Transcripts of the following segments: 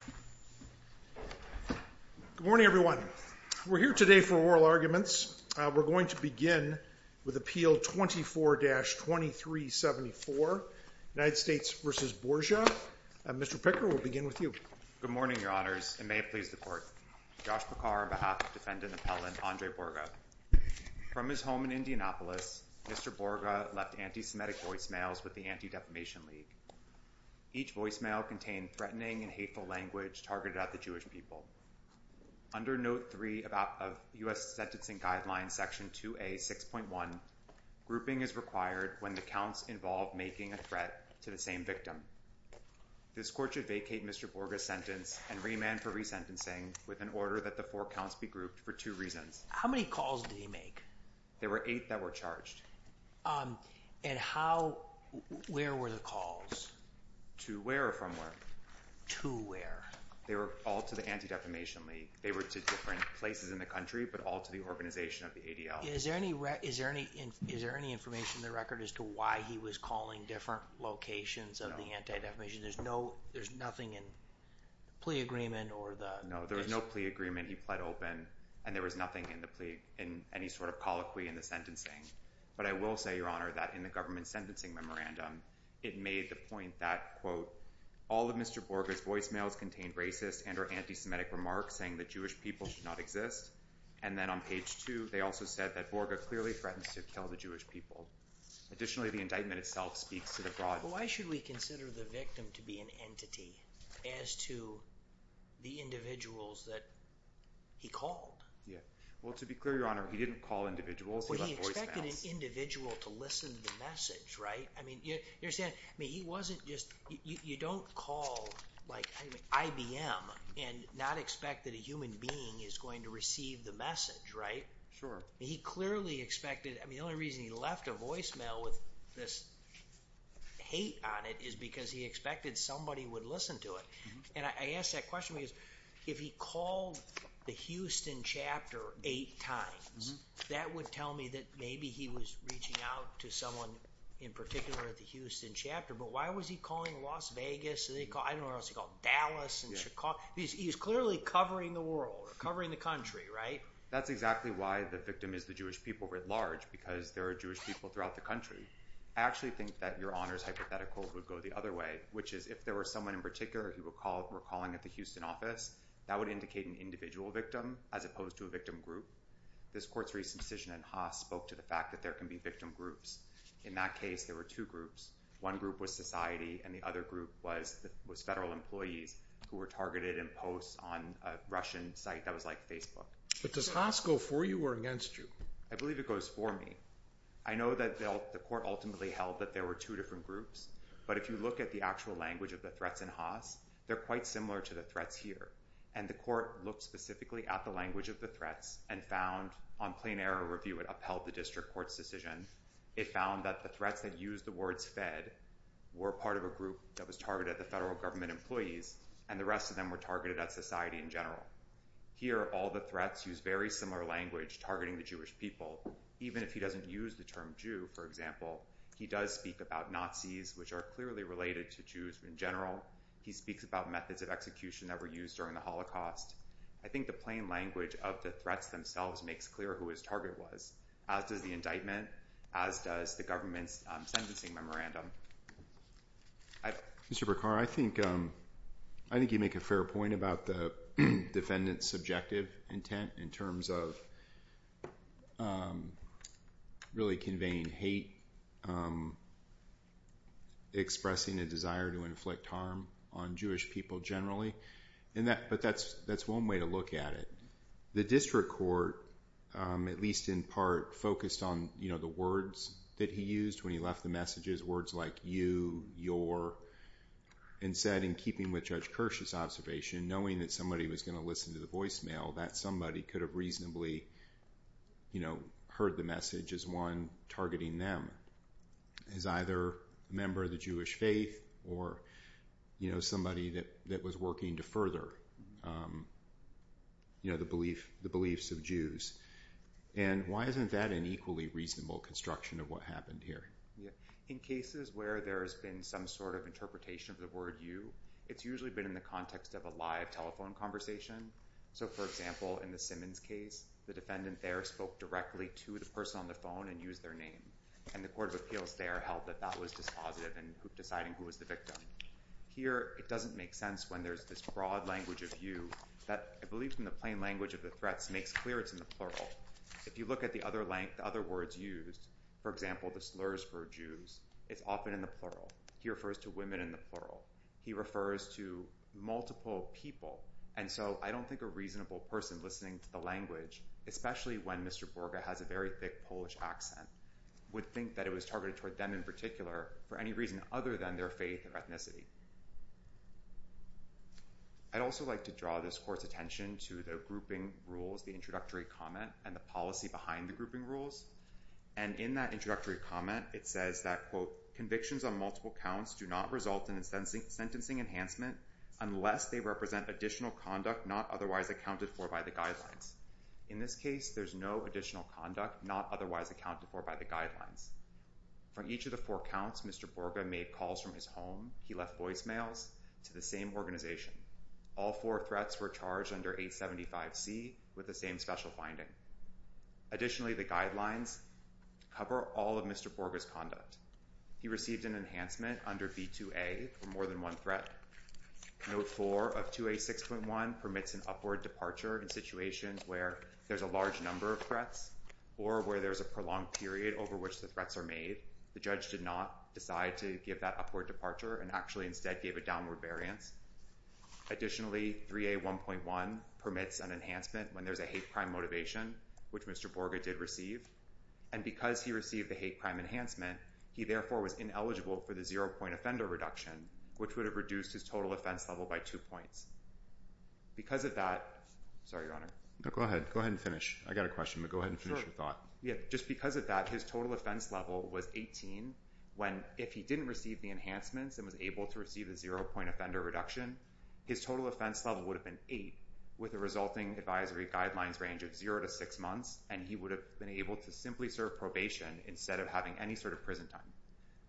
From his home in Indianapolis, Mr. Boryga left anti-Semitic voicemails with the Anti-Defamation League. Each voicemail contained threatening and hateful language targeted at the Jewish people. Under Note 3 of U.S. Sentencing Guidelines, Section 2A, 6.1, grouping is required when the counts involve making a threat to the same victim. This court should vacate Mr. Boryga's sentence and remand for resentencing with an order that the four counts be grouped for two reasons. How many calls did he make? There were eight that were charged. And how, where were the calls? To where or from where? To where? They were all to the Anti-Defamation League. They were to different places in the country, but all to the organization of the ADL. Is there any, is there any, is there any information in the record as to why he was calling different locations of the Anti-Defamation? There's no, there's nothing in the plea agreement or the... No, there was no plea agreement. He pled open and there was nothing in the plea, in any sort of colloquy in the sentencing. But I will say, Your Honor, that in the government sentencing memorandum, it made the point that, quote, all of Mr. Boryga's voicemails contained racist and or anti-Semitic remarks saying that Jewish people should not exist. And then on page two, they also said that Boryga clearly threatens to kill the Jewish people. Additionally, the indictment itself speaks to the broad... Why should we consider the victim to be an entity as to the individuals that he called? Yeah. Well, to be clear, Your Honor, he didn't call individuals, he left voicemails. Well, he expected an individual to listen to the message, right? I mean, you're saying, I mean, he wasn't just, you don't call like IBM and not expect that a human being is going to receive the message, right? Sure. He clearly expected, I mean, the only reason he left a voicemail with this hate on it is because he expected somebody would listen to it. And I asked that question because if he called the Houston chapter eight times, that would tell me that maybe he was reaching out to someone in particular at the Houston chapter. But why was he calling Las Vegas? I don't know what else he called, Dallas and Chicago. He's clearly covering the world or covering the country, right? That's exactly why the victim is the Jewish people writ because there are Jewish people throughout the country. I actually think that Your Honor's hypothetical would go the other way, which is if there was someone in particular he would call, were calling at the Houston office, that would indicate an individual victim as opposed to a victim group. This court's recent decision in Haas spoke to the fact that there can be victim groups. In that case, there were two groups. One group was society and the other group was federal employees who were targeted in posts on a Russian site that was like Facebook. But does Haas go for you or against you? I believe it goes for me. I know that the court ultimately held that there were two different groups. But if you look at the actual language of the threats in Haas, they're quite similar to the threats here. And the court looked specifically at the language of the threats and found on plain error review, it upheld the district court's decision. It found that the threats that use the words fed were part of a group that was targeted, the federal government employees, and the rest of them were targeted at society in general. Here, all the threats use very similar language targeting the Jewish people. Even if he doesn't use the term Jew, for example, he does speak about Nazis, which are clearly related to Jews in general. He speaks about methods of execution that were used during the Holocaust. I think the plain language of the threats themselves makes clear who his target was, as does the indictment, as does the government's sentencing memorandum. Mr. Bacar, I think you make a fair point about the defendant's subjective intent in terms of really conveying hate, expressing a desire to inflict harm on Jewish people generally. But that's one way to look at it. The district court, at least in part, focused on the words that he used when he left the messages, words like you, your, and said, in keeping with Judge Kirsch's observation, knowing that somebody was going to listen to the voicemail, that somebody could have reasonably heard the message as one targeting them as either a member of the Jewish faith or somebody that was working to further the beliefs of Jews. Why isn't that an equally reasonable construction of what happened here? In cases where there has been some sort of interpretation of the word you, it's usually been in the context of a live telephone conversation. So, for example, in the Simmons case, the defendant there spoke directly to the person on the phone and used their name. And the court of appeals there held that that was dispositive in deciding who was the victim. Here, it doesn't make sense when there's this broad language of you that I believe from the plain language of the threats makes clear it's in the plural. If you look at the other words used, for example, the slurs for Jews, it's often in the plural. He refers to women in the plural. He refers to multiple people. And so I don't think a reasonable person listening to the language, especially when Mr. Borga has a very thick Polish accent, would think that it was targeted toward them in particular for any reason other than their faith or ethnicity. I'd also like to draw this court's attention to the grouping rules, the introductory comment, and the policy behind the grouping rules. And in that introductory comment, it says that, quote, convictions on multiple counts do not result in a sentencing enhancement unless they represent additional conduct not otherwise accounted for by the guidelines. In this case, there's no additional conduct not otherwise accounted for by the guidelines. From each of the four counts, Mr. Borga made calls from his home, he left voicemails, to the same organization. All four threats were charged under 875C with the same special finding. Additionally, the guidelines cover all of Mr. Borga's conduct. He received an enhancement under B2A for more than one threat. Note 4 of 2A6.1 permits an upward departure in situations where there's a large number of threats or where there's a prolonged period over which the threats are made. The judge did not decide to give that upward departure and actually instead gave it a downward variance. Additionally, 3A1.1 permits an enhancement when there's a hate crime motivation, which Mr. Borga did receive. And because he received the hate crime enhancement, he therefore was ineligible for the zero point offender reduction, which would have reduced his total offense level by two points. Because of that, sorry, Your Honor. Go ahead. Go ahead and finish. I got a question, but go ahead and finish your thought. Just because of that, his total offense level was 18 when if he didn't receive the enhancements and was able to receive the zero point offender reduction, his total offense level would have been eight with the resulting advisory guidelines range of zero to six months. And he would have been able to simply serve probation instead of having any sort of prison time.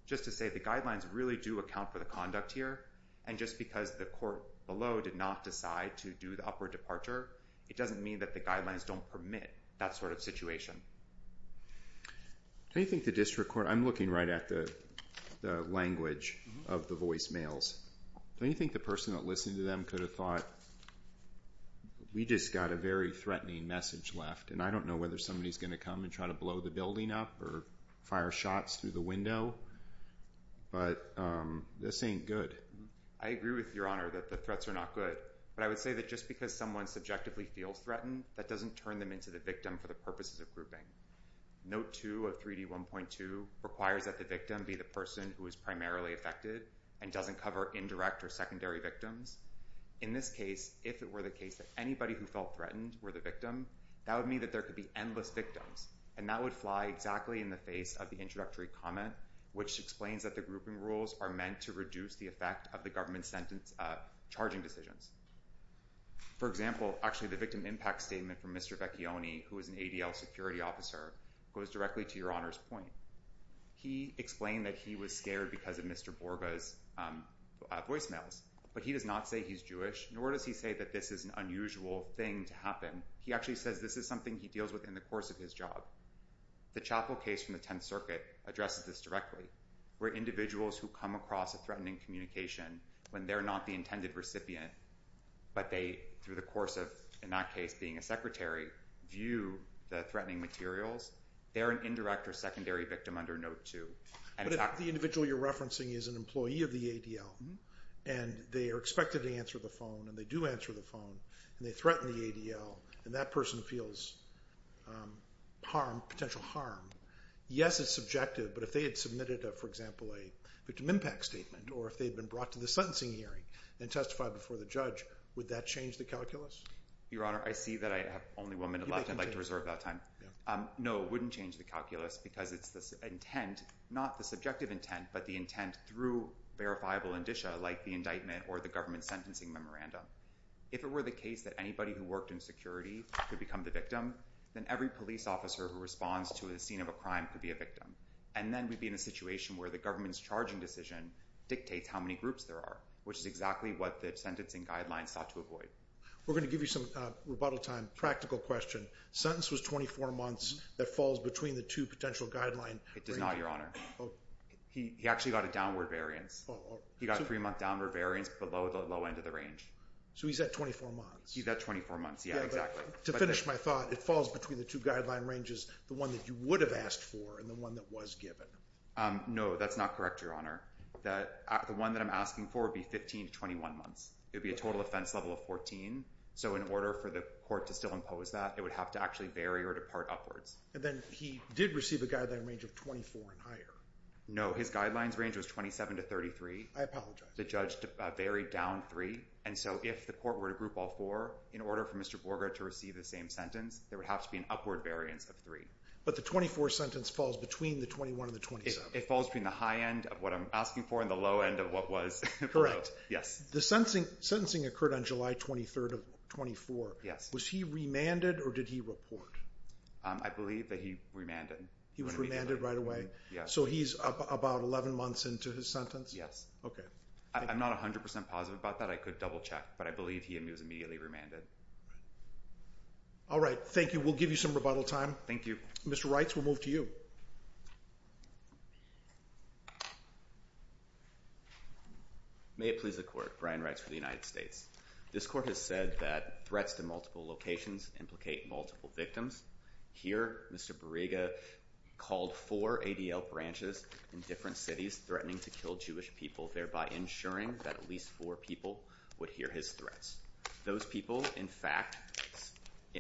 Just to say the guidelines really do account for the conduct here. And just because the court below did not decide to do the upward departure, it doesn't mean that the guidelines don't permit that sort of situation. Don't you think the district court, I'm looking right at the language of the voicemails. Don't you think the person that listened to them could have thought, we just got a very threatening message left. And I don't know whether somebody's going to come and try to blow the building up or fire shots through the window. But this ain't good. I agree with Your Honor that the threats are not good. But I would say that just because someone subjectively feels threatened, that doesn't turn them into the victim for the Note two of 3D 1.2 requires that the victim be the person who is primarily affected and doesn't cover indirect or secondary victims. In this case, if it were the case that anybody who felt threatened were the victim, that would mean that there could be endless victims. And that would fly exactly in the face of the introductory comment, which explains that the grouping rules are meant to reduce the effect of the government sentence charging decisions. For example, actually, the victim impact statement from Mr. Vecchione, who is an ADL security officer, goes directly to Your Honor's point. He explained that he was scared because of Mr. Borga's voicemails, but he does not say he's Jewish, nor does he say that this is an unusual thing to happen. He actually says this is something he deals with in the course of his job. The chapel case from the 10th Circuit addresses this directly, where individuals who come across a threatening communication when they're not the intended recipient, but they through the course of, in that case, being a secretary, view the threatening materials, they're an indirect or secondary victim under note two. But if the individual you're referencing is an employee of the ADL, and they are expected to answer the phone, and they do answer the phone, and they threaten the ADL, and that person feels potential harm, yes, it's subjective. But if they had submitted, for example, a victim impact statement, or if they'd been brought to the sentencing hearing and testified before the judge, would that change the calculus? Your Honor, I see that I have only one minute left. I'd like to reserve that time. No, it wouldn't change the calculus because it's the intent, not the subjective intent, but the intent through verifiable indicia, like the indictment or the government sentencing memorandum. If it were the case that anybody who worked in security could become the victim, then every police officer who responds to a scene of a crime could be a victim. And then we'd be in a situation where the government's charging decision dictates how many groups there are, which is exactly what the sentencing guidelines sought to avoid. We're going to give you some rebuttal time. Practical question. Sentence was 24 months. That falls between the two potential guidelines. It does not, Your Honor. He actually got a downward variance. He got a three-month downward variance below the low end of the range. So he's at 24 months. He's at 24 months, yeah, exactly. To finish my thought, it falls between the two guideline ranges, the one that you would have asked for and the one that was given. No, that's not correct, Your Honor. The one that I'm asking for would be 15 to 21 months. It would be a total offense level of 14. So in order for the court to still impose that, it would have to actually vary or depart upwards. And then he did receive a guideline range of 24 and higher. No, his guidelines range was 27 to 33. I apologize. The judge varied down three. And so if the court were to group all four in order for Mr. Borger to receive the same sentence, there would have to be an upward variance of three. But the 24 sentence falls between the 21 and the 27. It falls between the high end of what I'm asking for and the low end of what was below. Yes. The sentencing occurred on July 23rd of 24. Yes. Was he remanded or did he report? I believe that he remanded. He was remanded right away? Yes. So he's about 11 months into his sentence? Yes. Okay. I'm not 100% positive about that. I could double check, but I believe he was immediately remanded. All right. Thank you. We'll give you some rebuttal time. Thank you. Mr. Reitz, we'll move to you. May it please the court. Brian Reitz for the United States. This court has said that threats to multiple locations implicate multiple victims. Here, Mr. Borriga called four ADL branches in different cities threatening to kill Jewish people, thereby ensuring that at least four people would hear his threats. Those people, in fact,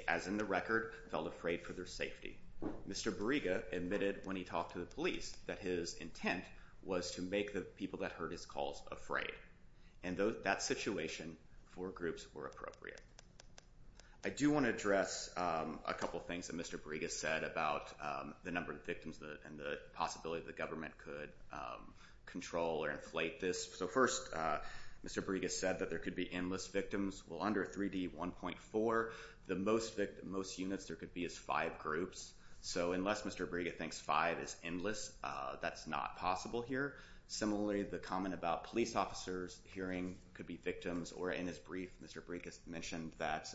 as in the record, felt afraid for their safety. Mr. Borriga admitted when he talked to the police that his intent was to make the people that heard his calls afraid. And that situation, four groups were appropriate. I do want to address a couple of things that Mr. Borriga said about the number of victims and the possibility that government could control or inflate this. So first, Mr. Borriga said that there could be Well, under 3D1.4, the most units there could be is five groups. So unless Mr. Borriga thinks five is endless, that's not possible here. Similarly, the comment about police officers hearing could be victims, or in his brief, Mr. Borriga mentioned that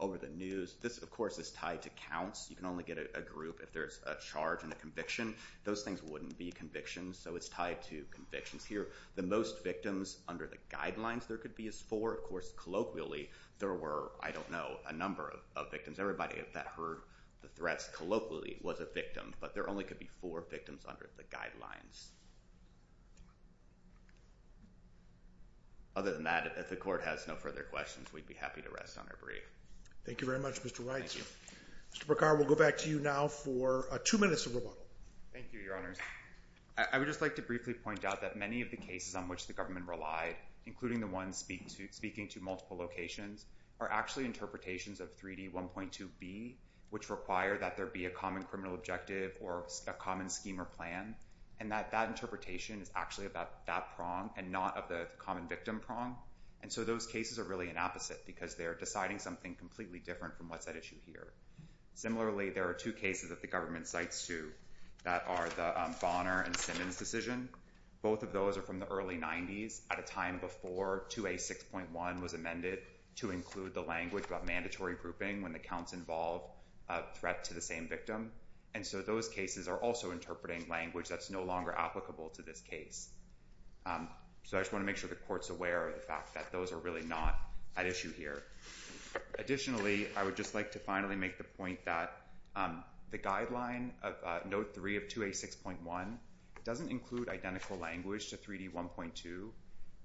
over the news. This, of course, is tied to counts. You can only get a group if there's a charge and a conviction. Those things wouldn't be convictions, so it's tied to convictions here. The most victims under the guidelines there could be is four. Of course, colloquially, there were, I don't know, a number of victims. Everybody that heard the threats colloquially was a victim, but there only could be four victims under the guidelines. Other than that, if the court has no further questions, we'd be happy to rest on our brief. Thank you very much, Mr. Wright. Mr. Bracar, we'll go back to you now for two minutes of rebuttal. Thank you, Your Honors. I would just like to briefly point out that many of the cases on which the government relied, including the ones speaking to multiple locations, are actually interpretations of 3D1.2b, which require that there be a common criminal objective or a common scheme or plan, and that that interpretation is actually about that prong and not of the common victim prong. And so those cases are really an opposite because they're deciding something completely different from what's at issue here. Similarly, there are two cases that the government cites to that are the Bonner and Simmons decision. Both of those are from the early 90s at a time before 2A6.1 was amended to include the language about mandatory grouping when the counts involve a threat to the same victim. And so those cases are also interpreting language that's no longer applicable to this case. So I just want to make sure the Court's aware of the fact that those are really not at issue here. Additionally, I would just like to finally make the point that the guideline of Note 3 of 2A6.1 doesn't include identical language to 3D1.2.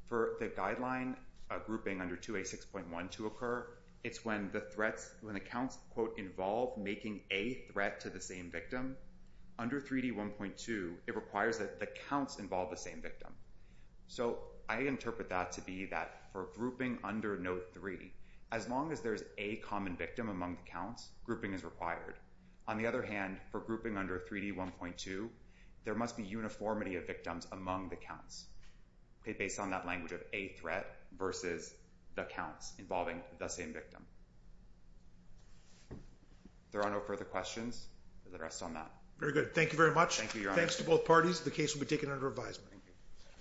For the guideline grouping under 2A6.1 to occur, it's when the counts, quote, involve making a threat to the same victim. Under 3D1.2, it requires that the counts involve the same victim. So I interpret that to be that for grouping under Note 3, as long as there's a common victim among the counts, grouping is required. On the other hand, for grouping under 3D1.2, there must be uniformity of victims among the counts, based on that language of a threat versus the counts involving the same victim. There are no further questions. The rest on that. Very good. Thank you very much. Thank you, Your Honor. Thanks to both parties. The case will be taken under advisement.